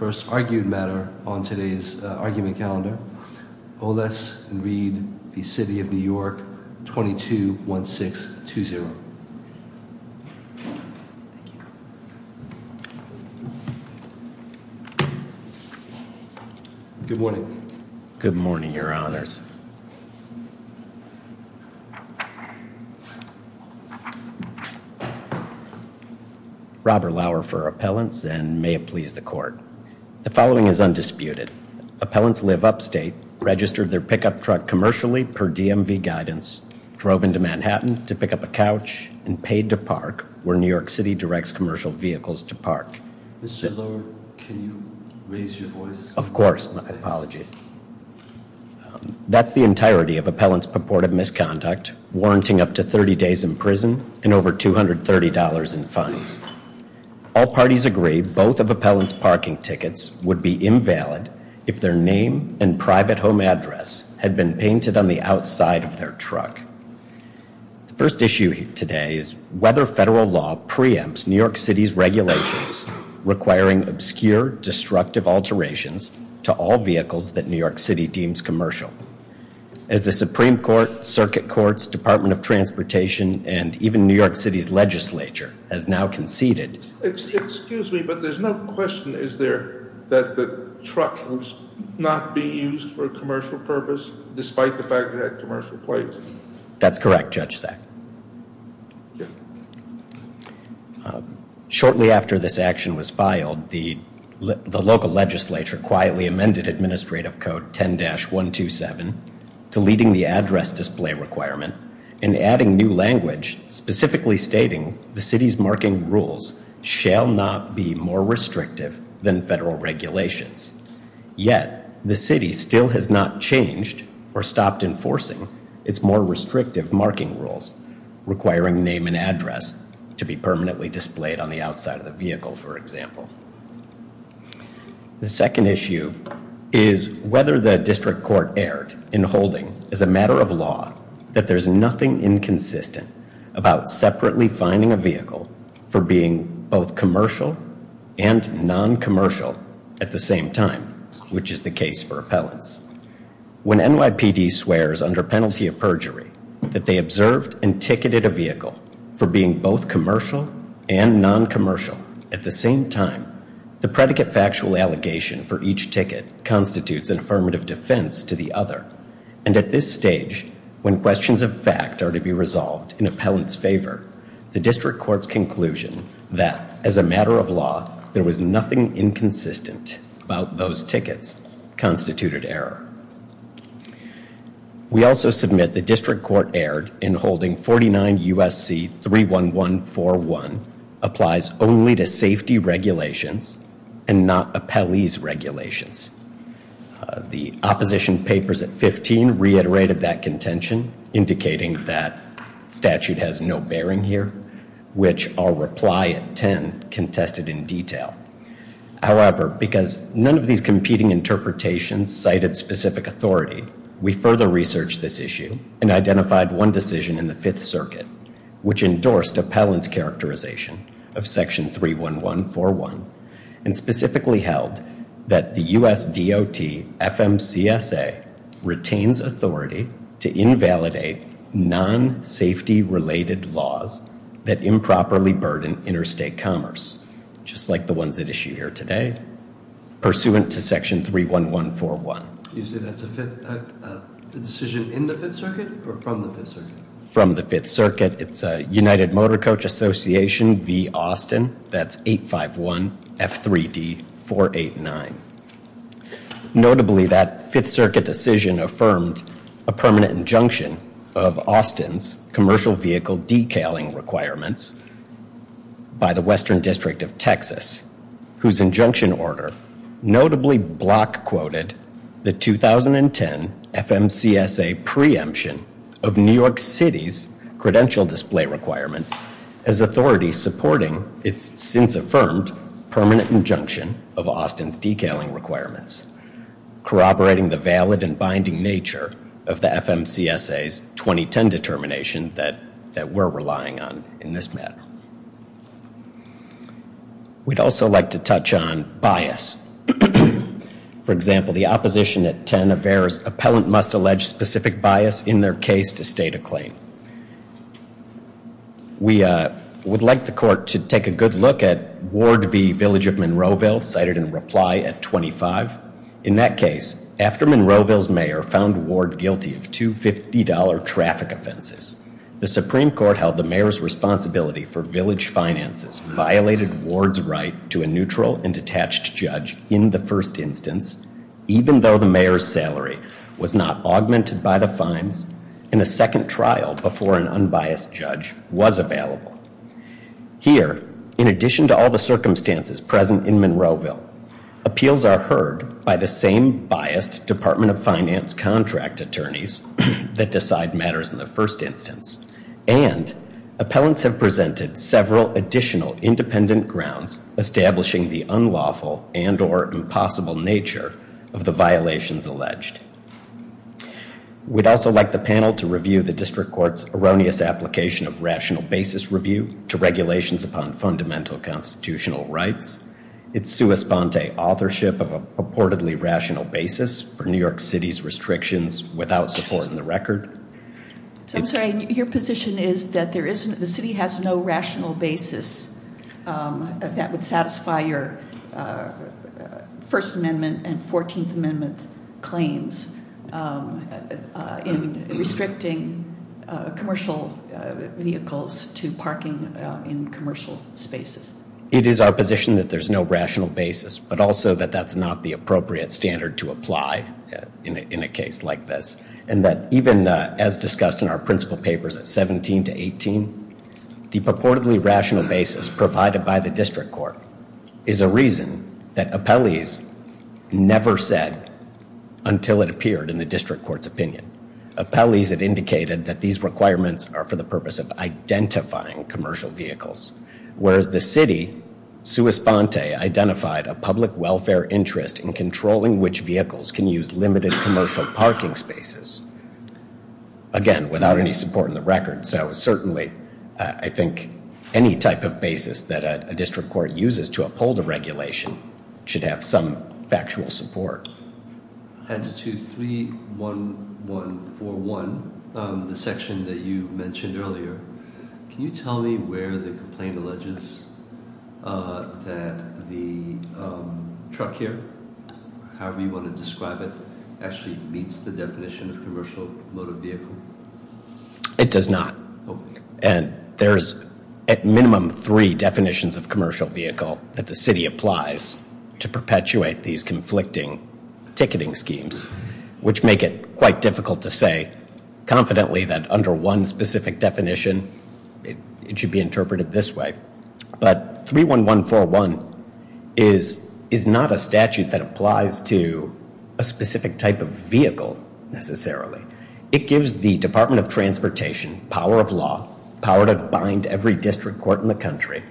First argued matter on today's argument calendar, Oles v. City of New York, 22-1620. Good morning. Good morning, your honors. Robert Lauer for appellants and may it please the court. The following is undisputed. Appellants live upstate, registered their pickup truck commercially per DMV guidance, drove into Manhattan to pick up a couch, and paid to park where New York City directs commercial vehicles to park. Mr. Lauer, can you raise your voice? Of course. My apologies. That's the entirety of appellant's purported misconduct, warranting up to 30 days in prison and over $230 in fines. All parties agree both of appellant's parking tickets would be invalid if their name and private home address had been painted on the outside of their truck. The first issue today is whether federal law preempts New York City's regulations requiring obscure, destructive alterations to all vehicles that New York City deems commercial. As the Supreme Court, Circuit Courts, Department of Transportation, and even New York City's legislature has now conceded. Excuse me, but there's no question, is there, that the truck was not being used for commercial purpose despite the fact that it had commercial plates? That's correct, Judge Sack. Shortly after this action was filed, the local legislature quietly amended administrative code 10-127, deleting the address display requirement and adding new language specifically stating the city's marking rules shall not be more restrictive than federal regulations. Yet, the city still has not changed or stopped enforcing its more restrictive marking rules requiring name and address to be permanently displayed on the outside of the vehicle, for example. The second issue is whether the district court erred in holding, as a matter of law, that there's nothing inconsistent about separately fining a vehicle for being both commercial and non-commercial at the same time, which is the case for appellants. When NYPD swears under penalty of perjury that they observed and ticketed a vehicle for being both commercial and non-commercial at the same time, the predicate factual allegation for each ticket constitutes an affirmative defense to the other. And at this stage, when questions of fact are to be resolved in appellant's favor, the district court's conclusion that, as a matter of law, there was nothing inconsistent about those tickets constituted error. We also submit the district court erred in holding 49 U.S.C. 31141 applies only to safety regulations and not appellee's regulations. The opposition papers at 15 reiterated that contention, indicating that statute has no bearing here, which our reply at 10 contested in detail. However, because none of these competing interpretations cited specific authority, we further researched this issue and identified one decision in the Fifth Circuit which endorsed appellant's characterization of Section 31141 and specifically held that the U.S. DOT FMCSA retains authority to invalidate non-safety-related laws that improperly burden interstate commerce, just like the ones at issue here today, pursuant to Section 31141. You say that's a decision in the Fifth Circuit or from the Fifth Circuit? From the Fifth Circuit. It's United Motor Coach Association v. Austin. That's 851 F3D489. Notably, that Fifth Circuit decision affirmed a permanent injunction of Austin's commercial vehicle decaling requirements by the Western District of Texas, whose injunction order notably block-quoted the 2010 FMCSA preemption of New York City's credential display requirements as authority supporting its since-affirmed permanent injunction of Austin's decaling requirements, corroborating the valid and binding nature of the FMCSA's 2010 determination that we're relying on in this matter. I'd also like to touch on bias. For example, the opposition at 10 averes appellant must allege specific bias in their case to state a claim. We would like the court to take a good look at Ward v. Village of Monroeville, cited in reply at 25. In that case, after Monroeville's mayor found Ward guilty of two $50 traffic offenses, the Supreme Court held the mayor's responsibility for Village finances violated Ward's right to a neutral and detached judge in the first instance, even though the mayor's salary was not augmented by the fines in a second trial before an unbiased judge was available. Here, in addition to all the circumstances present in Monroeville, appeals are heard by the same biased Department of Finance contract attorneys that decide matters in the first instance, and appellants have presented several additional independent grounds establishing the unlawful and or impossible nature of the violations alleged. We'd also like the panel to review the district court's erroneous application of rational basis review to regulations upon fundamental constitutional rights. It's sua sponte authorship of a purportedly rational basis for New York City's restrictions without support in the record. I'm sorry, your position is that the city has no rational basis that would satisfy your First Amendment and 14th Amendment claims in restricting commercial vehicles to parking in commercial spaces. It is our position that there's no rational basis, but also that that's not the appropriate standard to apply in a case like this, and that even as discussed in our principal papers at 17 to 18, the purportedly rational basis provided by the district court is a reason that appellees never said until it appeared in the district court's opinion. Appellees had indicated that these requirements are for the purpose of identifying commercial vehicles, whereas the city sua sponte identified a public welfare interest in controlling which vehicles can use limited commercial parking spaces. Again, without any support in the record. So certainly I think any type of basis that a district court uses to uphold a regulation should have some factual support. As to 31141, the section that you mentioned earlier, can you tell me where the complaint alleges that the truck here, however you want to describe it, actually meets the definition of commercial motor vehicle? It does not. And there's at minimum three definitions of commercial vehicle that the city applies to perpetuate these conflicting ticketing schemes, which make it quite difficult to say confidently that under one specific definition it should be interpreted this way. But 31141 is not a statute that applies to a specific type of vehicle necessarily. It gives the Department of Transportation power of law, power to bind every district court in the country,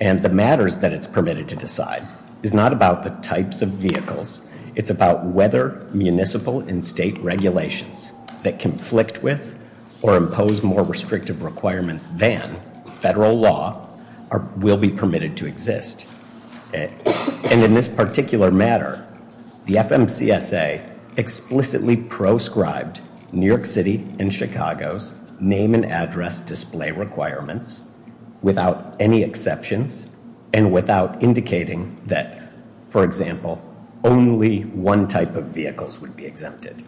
and the matters that it's permitted to decide is not about the types of vehicles. It's about whether municipal and state regulations that conflict with or impose more restrictive requirements than federal law will be permitted to exist. And in this particular matter, the FMCSA explicitly proscribed New York City and Chicago's name and address display requirements without any exceptions and without indicating that, for example, only one type of vehicles would be exempted.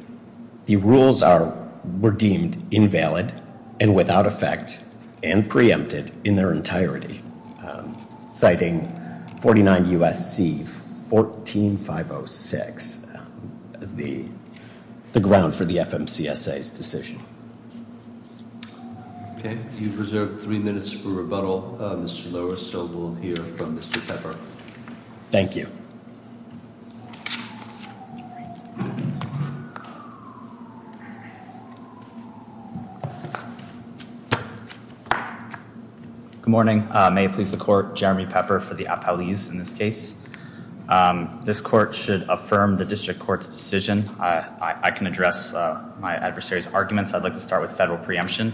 The rules were deemed invalid and without effect and preempted in their entirety, citing 49 U.S.C. 14506 as the ground for the FMCSA's decision. Okay. You've reserved three minutes for rebuttal, Mr. Lowe, so we'll hear from Mr. Pepper. Thank you. Good morning. May it please the court, Jeremy Pepper for the appellees in this case. This court should affirm the district court's decision. I can address my adversary's arguments. I'd like to start with federal preemption.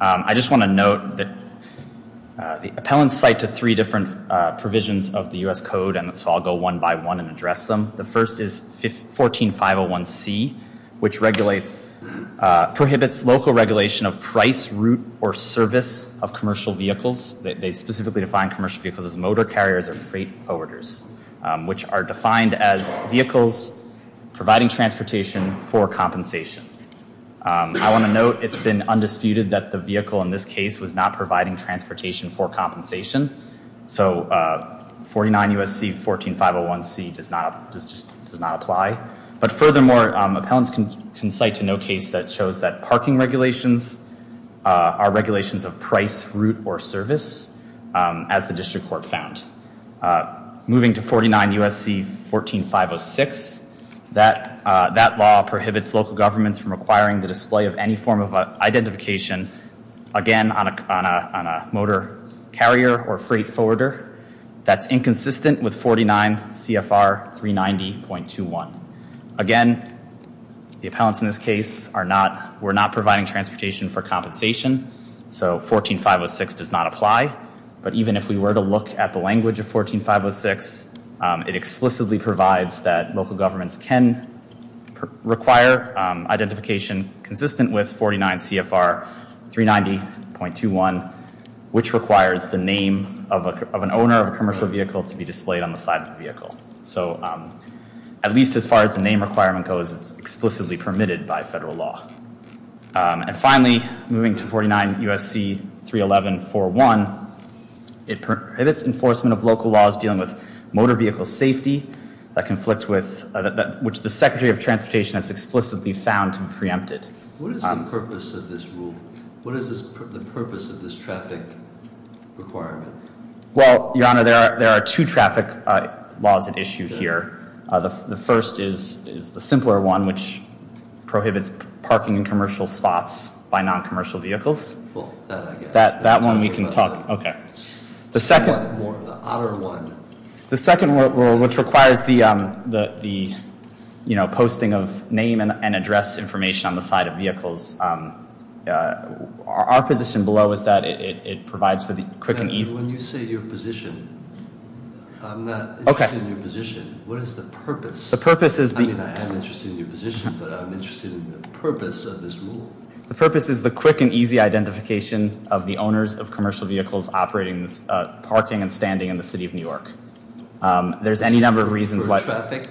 I just want to note that the appellants cite to three different provisions of the U.S. Code, and so I'll go one by one and address them. The first is 14501C, which prohibits local regulation of price, route, or service of commercial vehicles. They specifically define commercial vehicles as motor carriers or freight forwarders, which are defined as vehicles providing transportation for compensation. I want to note it's been undisputed that the vehicle in this case was not providing transportation for compensation. So 49 U.S.C. 14501C does not apply. But furthermore, appellants can cite to no case that shows that parking regulations are regulations of price, route, or service, as the district court found. Moving to 49 U.S.C. 14506, that law prohibits local governments from requiring the display of any form of identification, again, on a motor carrier or freight forwarder. That's inconsistent with 49 CFR 390.21. Again, the appellants in this case were not providing transportation for compensation, so 14506 does not apply. But even if we were to look at the language of 14506, it explicitly provides that local governments can require identification consistent with 49 CFR 390.21, which requires the name of an owner of a commercial vehicle to be displayed on the side of the vehicle. So at least as far as the name requirement goes, it's explicitly permitted by federal law. And finally, moving to 49 U.S.C. 311.41, it prohibits enforcement of local laws dealing with motor vehicle safety, which the Secretary of Transportation has explicitly found to be preempted. What is the purpose of this rule? What is the purpose of this traffic requirement? Well, Your Honor, there are two traffic laws at issue here. The first is the simpler one, which prohibits parking in commercial spots by non-commercial vehicles. Well, that I get. That one we can talk about. Okay. The second- The otter one. The second rule, which requires the posting of name and address information on the side of vehicles, our position below is that it provides for the quick and easy- What is the purpose? The purpose is the- I mean, I am interested in your position, but I'm interested in the purpose of this rule. The purpose is the quick and easy identification of the owners of commercial vehicles operating parking and standing in the city of New York. There's any number of reasons why- For traffic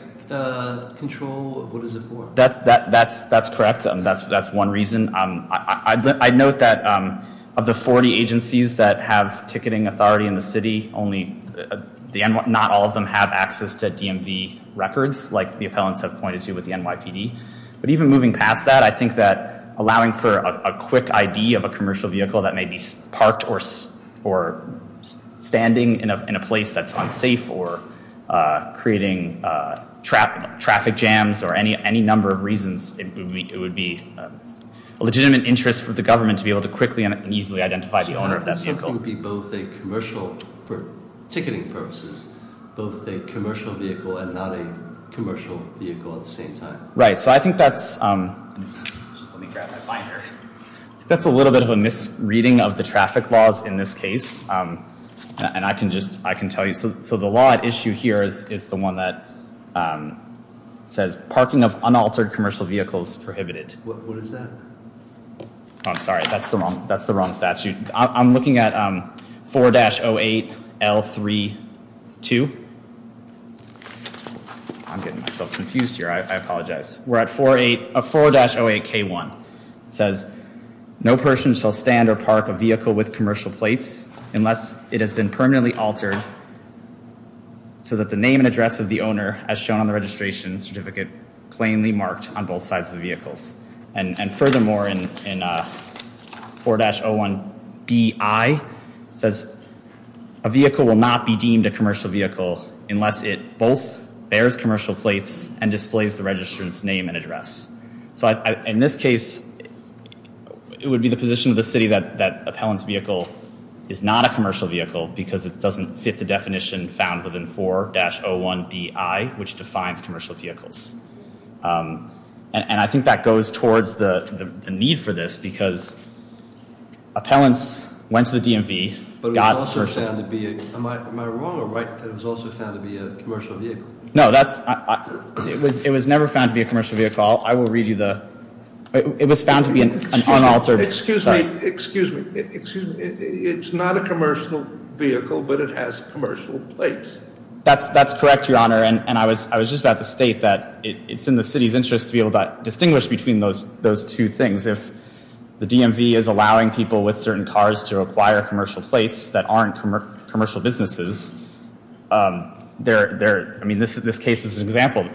control? What is it for? That's correct. That's one reason. I note that of the 40 agencies that have ticketing authority in the city, not all of them have access to DMV records, like the appellants have pointed to with the NYPD. But even moving past that, I think that allowing for a quick ID of a commercial vehicle that may be parked or standing in a place that's unsafe or creating traffic jams or any number of reasons, it would be a legitimate interest for the government to be able to quickly and easily identify the owner of that vehicle. So it would be both a commercial, for ticketing purposes, both a commercial vehicle and not a commercial vehicle at the same time? Right. So I think that's- Just let me grab my binder. That's a little bit of a misreading of the traffic laws in this case. And I can tell you, so the law at issue here is the one that says parking of unaltered commercial vehicles prohibited. What is that? I'm sorry. That's the wrong statute. I'm looking at 4-08L32. I'm getting myself confused here. I apologize. We're at 4-08K1. It says no person shall stand or park a vehicle with commercial plates unless it has been permanently altered so that the name and address of the owner, as shown on the registration certificate, plainly marked on both sides of the vehicles. And furthermore, in 4-01BI, it says a vehicle will not be deemed a commercial vehicle unless it both bears commercial plates and displays the registrant's name and address. So in this case, it would be the position of the city that appellant's vehicle is not a commercial vehicle because it doesn't fit the definition found within 4-01BI, which defines commercial vehicles. And I think that goes towards the need for this because appellants went to the DMV- But it was also found to be- Am I wrong or right that it was also found to be a commercial vehicle? No, that's- It was never found to be a commercial vehicle. I will read you the- It was found to be an unaltered- Excuse me. Excuse me. It's not a commercial vehicle, but it has commercial plates. That's correct, Your Honor. And I was just about to state that it's in the city's interest to be able to distinguish between those two things. If the DMV is allowing people with certain cars to acquire commercial plates that aren't commercial businesses, I mean, this case is an example.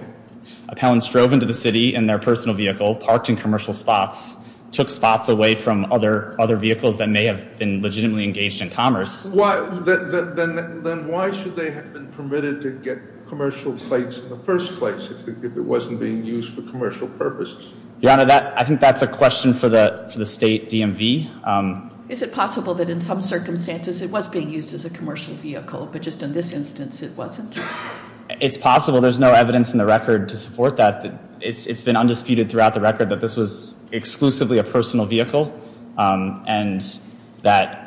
Appellants drove into the city in their personal vehicle, parked in commercial spots, took spots away from other vehicles that may have been legitimately engaged in commerce. Then why should they have been permitted to get commercial plates in the first place if it wasn't being used for commercial purposes? Your Honor, I think that's a question for the state DMV. Is it possible that in some circumstances it was being used as a commercial vehicle, but just in this instance it wasn't? It's possible. There's no evidence in the record to support that. It's been undisputed throughout the record that this was exclusively a personal vehicle, and that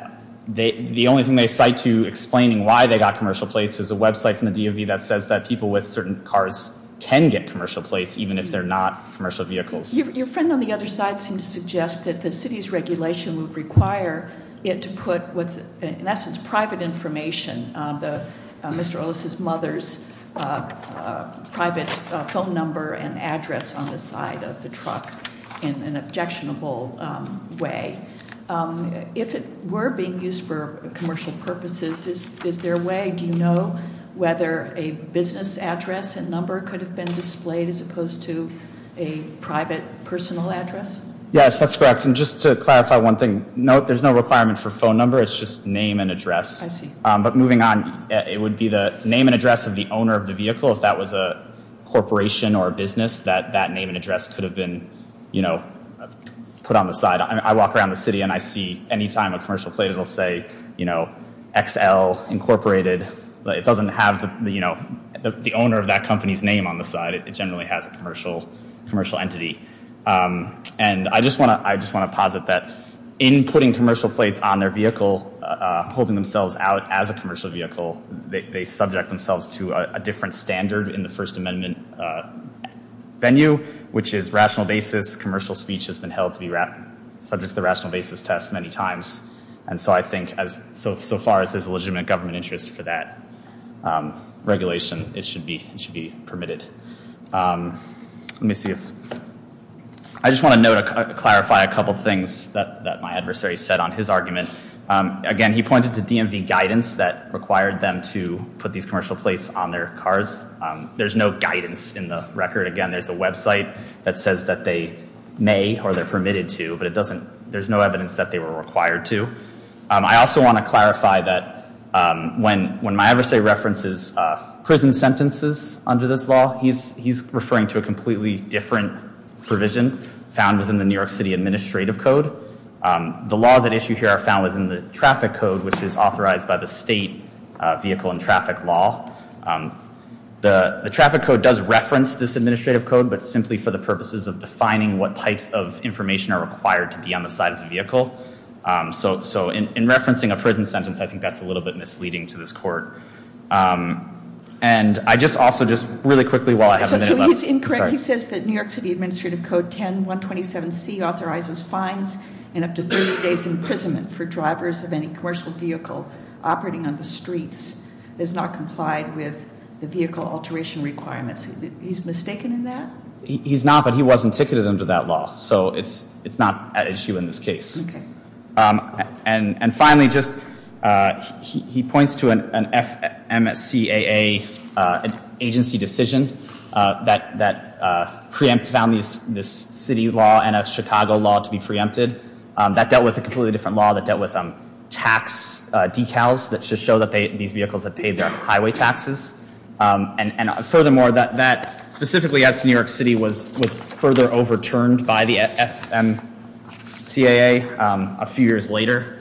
the only thing they cite to explaining why they got commercial plates is a website from the DMV that says that people with certain cars can get commercial plates even if they're not commercial vehicles. Your friend on the other side seemed to suggest that the city's regulation would require it to put what's in essence private information, Mr. Ellis' mother's private phone number and address on the side of the truck in an objectionable way. If it were being used for commercial purposes, is there a way? Do you know whether a business address and number could have been displayed as opposed to a private personal address? Yes, that's correct. And just to clarify one thing, no, there's no requirement for phone number. It's just name and address. I see. But moving on, it would be the name and address of the owner of the vehicle. If that was a corporation or a business, that name and address could have been put on the side. I walk around the city and I see any time a commercial plate, it'll say, you know, XL Incorporated. It doesn't have, you know, the owner of that company's name on the side. It generally has a commercial entity. And I just want to posit that in putting commercial plates on their vehicle, holding themselves out as a commercial vehicle, they subject themselves to a different standard in the First Amendment venue, which is rational basis. Commercial speech has been held to be subject to the rational basis test many times. And so I think so far as there's a legitimate government interest for that regulation, it should be permitted. I just want to clarify a couple of things that my adversary said on his argument. Again, he pointed to DMV guidance that required them to put these commercial plates on their cars. There's no guidance in the record. Again, there's a website that says that they may or they're permitted to. But it doesn't, there's no evidence that they were required to. I also want to clarify that when my adversary references prison sentences under this law, he's referring to a completely different provision found within the New York City administrative code. The laws at issue here are found within the traffic code, which is authorized by the state vehicle and traffic law. The traffic code does reference this administrative code, but simply for the purposes of defining what types of information are required to be on the side of the vehicle. So in referencing a prison sentence, I think that's a little bit misleading to this court. And I just also just really quickly while I have a minute left. I'm sorry. He says that New York City Administrative Code 10-127C authorizes fines and up to 30 days imprisonment for drivers of any commercial vehicle operating on the streets. It's not complied with the vehicle alteration requirements. He's mistaken in that? He's not, but he wasn't ticketed under that law. So it's not at issue in this case. Okay. And finally, he points to an FMSCAA agency decision that preempt found this city law and a Chicago law to be preempted. That dealt with a completely different law that dealt with tax decals that should show that these vehicles have paid their highway taxes. And furthermore, that specifically as New York City was further overturned by the FMSCAA a few years later.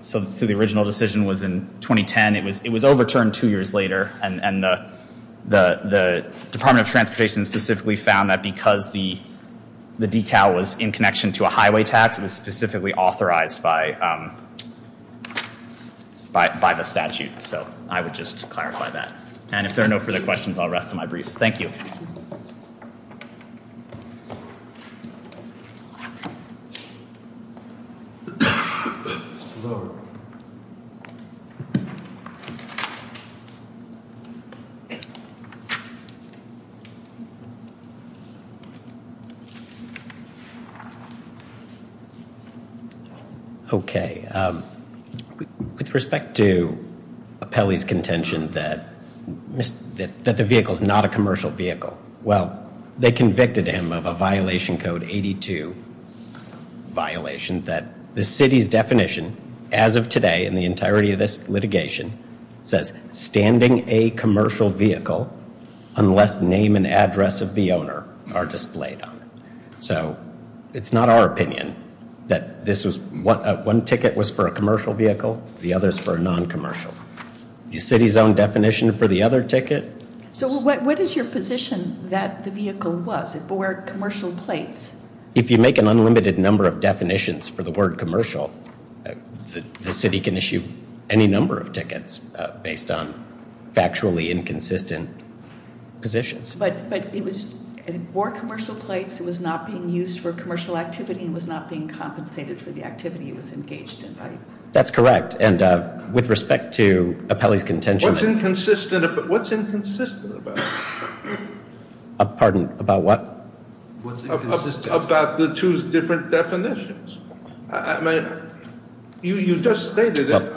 So the original decision was in 2010. And it was overturned two years later. And the Department of Transportation specifically found that because the decal was in connection to a highway tax, it was specifically authorized by the statute. So I would just clarify that. And if there are no further questions, I'll rest my briefs. Thank you. Thank you. Okay. With respect to Apelli's contention that the vehicle is not a commercial vehicle, well, they convicted him of a violation code 82, violation that the city's definition as of today in the entirety of this litigation says standing a commercial vehicle unless name and address of the owner are displayed on it. So it's not our opinion that this was one ticket was for a commercial vehicle. The other is for a noncommercial. The city's own definition for the other ticket. So what is your position that the vehicle was? It bore commercial plates. If you make an unlimited number of definitions for the word commercial, the city can issue any number of tickets based on factually inconsistent positions. But it bore commercial plates. It was not being used for commercial activity. It was not being compensated for the activity it was engaged in. That's correct. And with respect to Apelli's contention. What's inconsistent about it? Pardon? About what? What's inconsistent? About the two different definitions. You just stated it.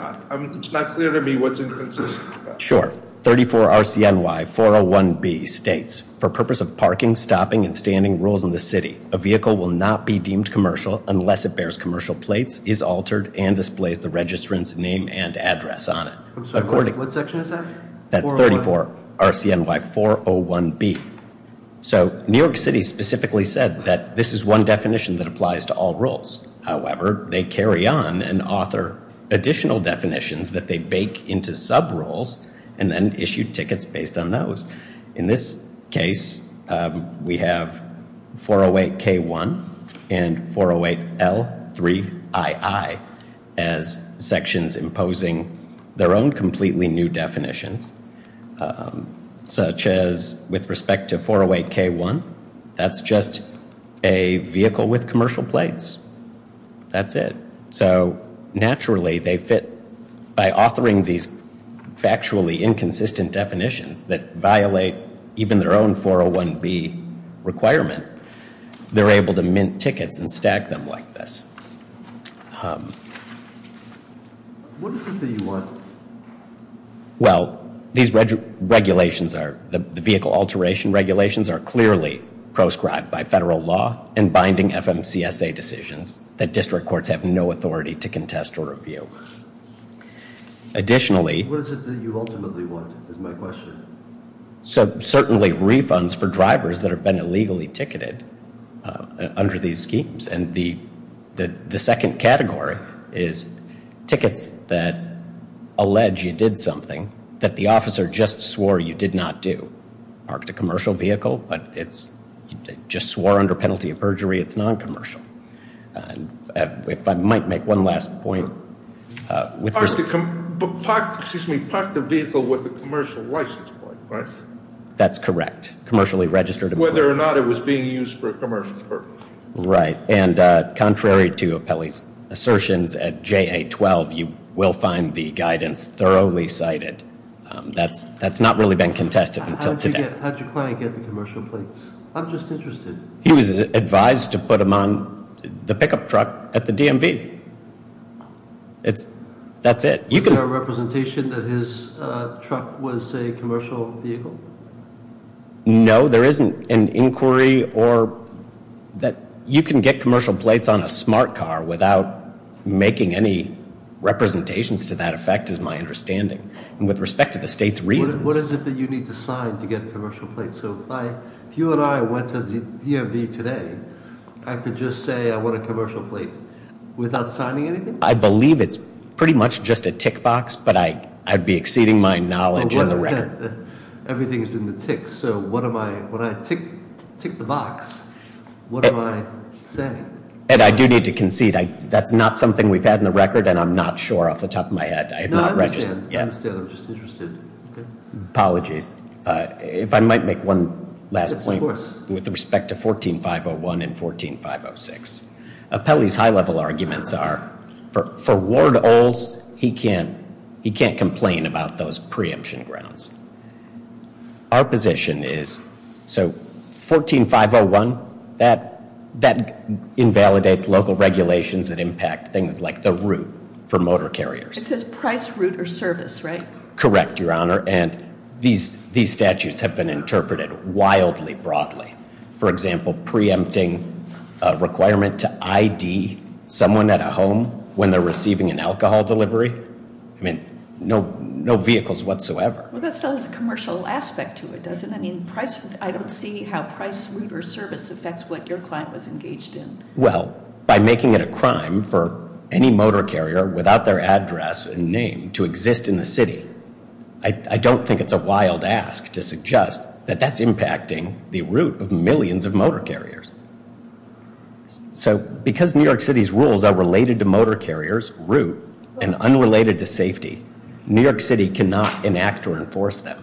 It's not clear to me what's inconsistent about it. Sure. 34 RCNY 401B states, for purpose of parking, stopping, and standing rules in the city, a vehicle will not be deemed commercial unless it bears commercial plates, is altered, and displays the registrant's name and address on it. What section is that? That's 34 RCNY 401B. So New York City specifically said that this is one definition that applies to all rules. However, they carry on and author additional definitions that they bake into sub-rules and then issue tickets based on those. In this case, we have 408K1 and 408L3II as sections imposing their own completely new definitions, such as with respect to 408K1, that's just a vehicle with commercial plates. That's it. So naturally, they fit. By authoring these factually inconsistent definitions that violate even their own 401B requirement, they're able to mint tickets and stag them like this. What is it that you want? Well, the vehicle alteration regulations are clearly proscribed by federal law and binding FMCSA decisions that district courts have no authority to contest or review. What is it that you ultimately want, is my question. So certainly refunds for drivers that have been illegally ticketed under these schemes. And the second category is tickets that allege you did something that the officer just swore you did not do. Parked a commercial vehicle, but it's just swore under penalty of perjury it's non-commercial. If I might make one last point. Parked the vehicle with a commercial license plate, right? That's correct. Whether or not it was being used for a commercial purpose. Right. And contrary to Apelli's assertions at JA-12, you will find the guidance thoroughly cited. That's not really been contested until today. How did your client get the commercial plates? I'm just interested. He was advised to put them on the pickup truck at the DMV. That's it. Is there a representation that his truck was a commercial vehicle? No, there isn't an inquiry or that you can get commercial plates on a smart car without making any representations to that effect is my understanding. And with respect to the state's reasons. What is it that you need to sign to get commercial plates? So if you and I went to the DMV today, I could just say I want a commercial plate without signing anything? I believe it's pretty much just a tick box, but I'd be exceeding my knowledge on the record. Everything is in the ticks, so when I tick the box, what am I saying? Ed, I do need to concede. That's not something we've had on the record, and I'm not sure off the top of my head. No, I understand. I understand. I'm just interested. Apologies. If I might make one last point. Of course. With respect to 14-501 and 14-506. Appellee's high-level arguments are for Ward-Oles, he can't complain about those preemption grounds. Our position is, so 14-501, that invalidates local regulations that impact things like the route for motor carriers. It says price, route, or service, right? Correct, Your Honor, and these statutes have been interpreted wildly broadly. For example, preempting a requirement to ID someone at a home when they're receiving an alcohol delivery. I mean, no vehicles whatsoever. Well, that still has a commercial aspect to it, doesn't it? I mean, I don't see how price, route, or service affects what your client was engaged in. Well, by making it a crime for any motor carrier without their address and name to exist in the city, I don't think it's a wild ask to suggest that that's impacting the route of millions of motor carriers. So, because New York City's rules are related to motor carriers, route, and unrelated to safety, New York City cannot enact or enforce them.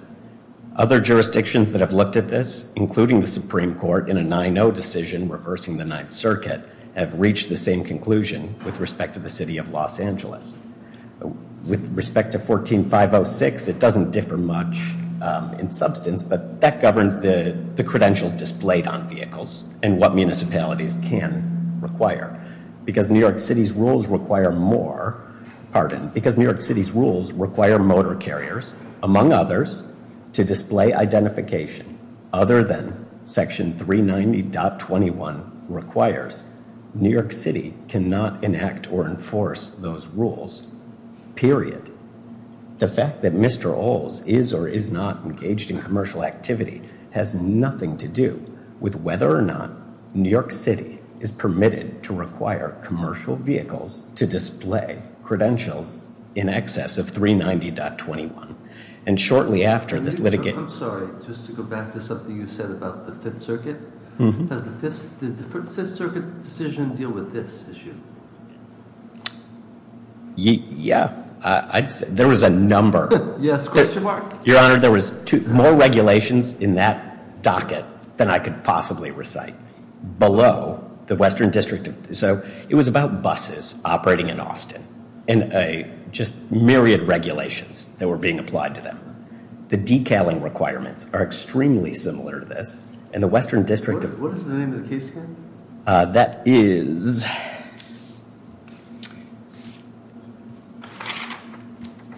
Other jurisdictions that have looked at this, including the Supreme Court in a 9-0 decision reversing the Ninth Circuit, have reached the same conclusion with respect to the city of Los Angeles. With respect to 14-506, it doesn't differ much in substance, but that governs the credentials displayed on vehicles and what municipalities can require. Because New York City's rules require motor carriers, among others, to display identification other than Section 390.21 requires, New York City cannot enact or enforce those rules, period. The fact that Mr. Oles is or is not engaged in commercial activity has nothing to do with whether or not New York City is permitted to require commercial vehicles to display credentials in excess of 390.21. And shortly after this litigation... I'm sorry, just to go back to something you said about the Fifth Circuit. Does the Fifth Circuit decision deal with this issue? Yeah, there was a number. Yes, question mark? Your Honor, there was more regulations in that docket than I could possibly recite below the Western District. So it was about buses operating in Austin and just myriad regulations that were being applied to them. The decaling requirements are extremely similar to this, and the Western District... What is the name of the case, again? That is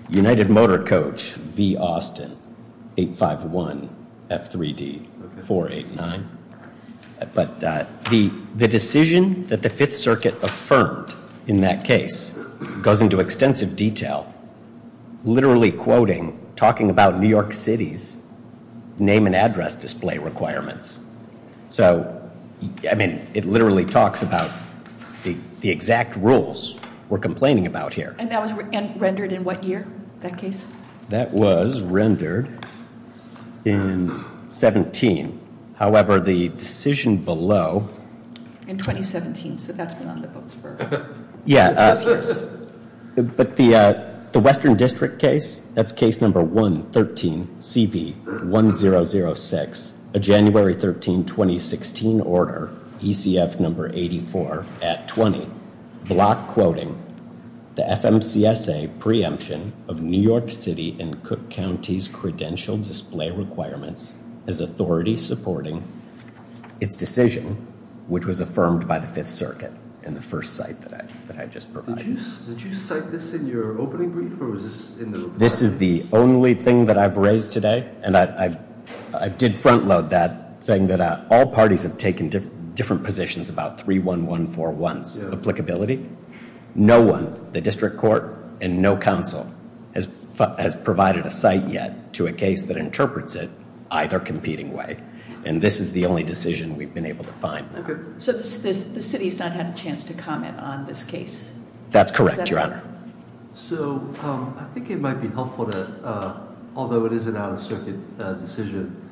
United Motor Coach v. Austin 851 F3D 489. But the decision that the Fifth Circuit affirmed in that case goes into extensive detail, literally quoting, talking about New York City's name and address display requirements. So, I mean, it literally talks about the exact rules we're complaining about here. And that was rendered in what year, that case? That was rendered in 17. However, the decision below... In 2017, so that's been on the books for... Yeah, but the Western District case, that's case number 113, CB 1006, January 13, 2016, order, ECF number 84 at 20, block quoting, the FMCSA preemption of New York City and Cook County's credential display requirements is authority supporting its decision, which was affirmed by the Fifth Circuit in the first site that I just provided. Did you cite this in your opening brief? This is the only thing that I've raised today, and I did front load that, saying that all parties have taken different positions about 31141's applicability. No one, the district court and no council, has provided a site yet to a case that interprets it either competing way. And this is the only decision we've been able to find. So the city has not had a chance to comment on this case? That's correct, Your Honor. So I think it might be helpful to, although it is an out-of-circuit decision,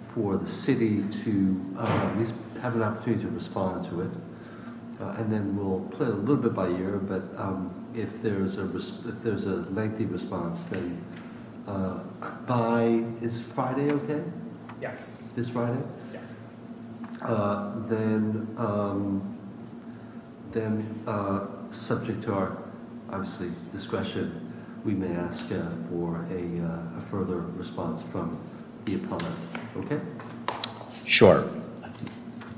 for the city to at least have an opportunity to respond to it. And then we'll play it a little bit by ear, but if there's a lengthy response, then by, is Friday okay? Yes. This Friday? Yes. Then subject to our, obviously, discretion, we may ask for a further response from the appellate. Okay? Sure.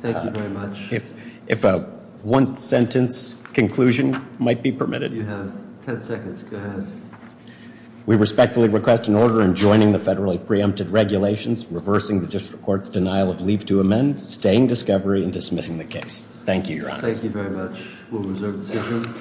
Thank you very much. If a one-sentence conclusion might be permitted. You have ten seconds. Go ahead. We respectfully request an order in joining the federally preempted regulations, reversing the district court's denial of leave to amend, staying discovery, and dismissing the case. Thank you, Your Honor. Thank you very much. We'll reserve the decision.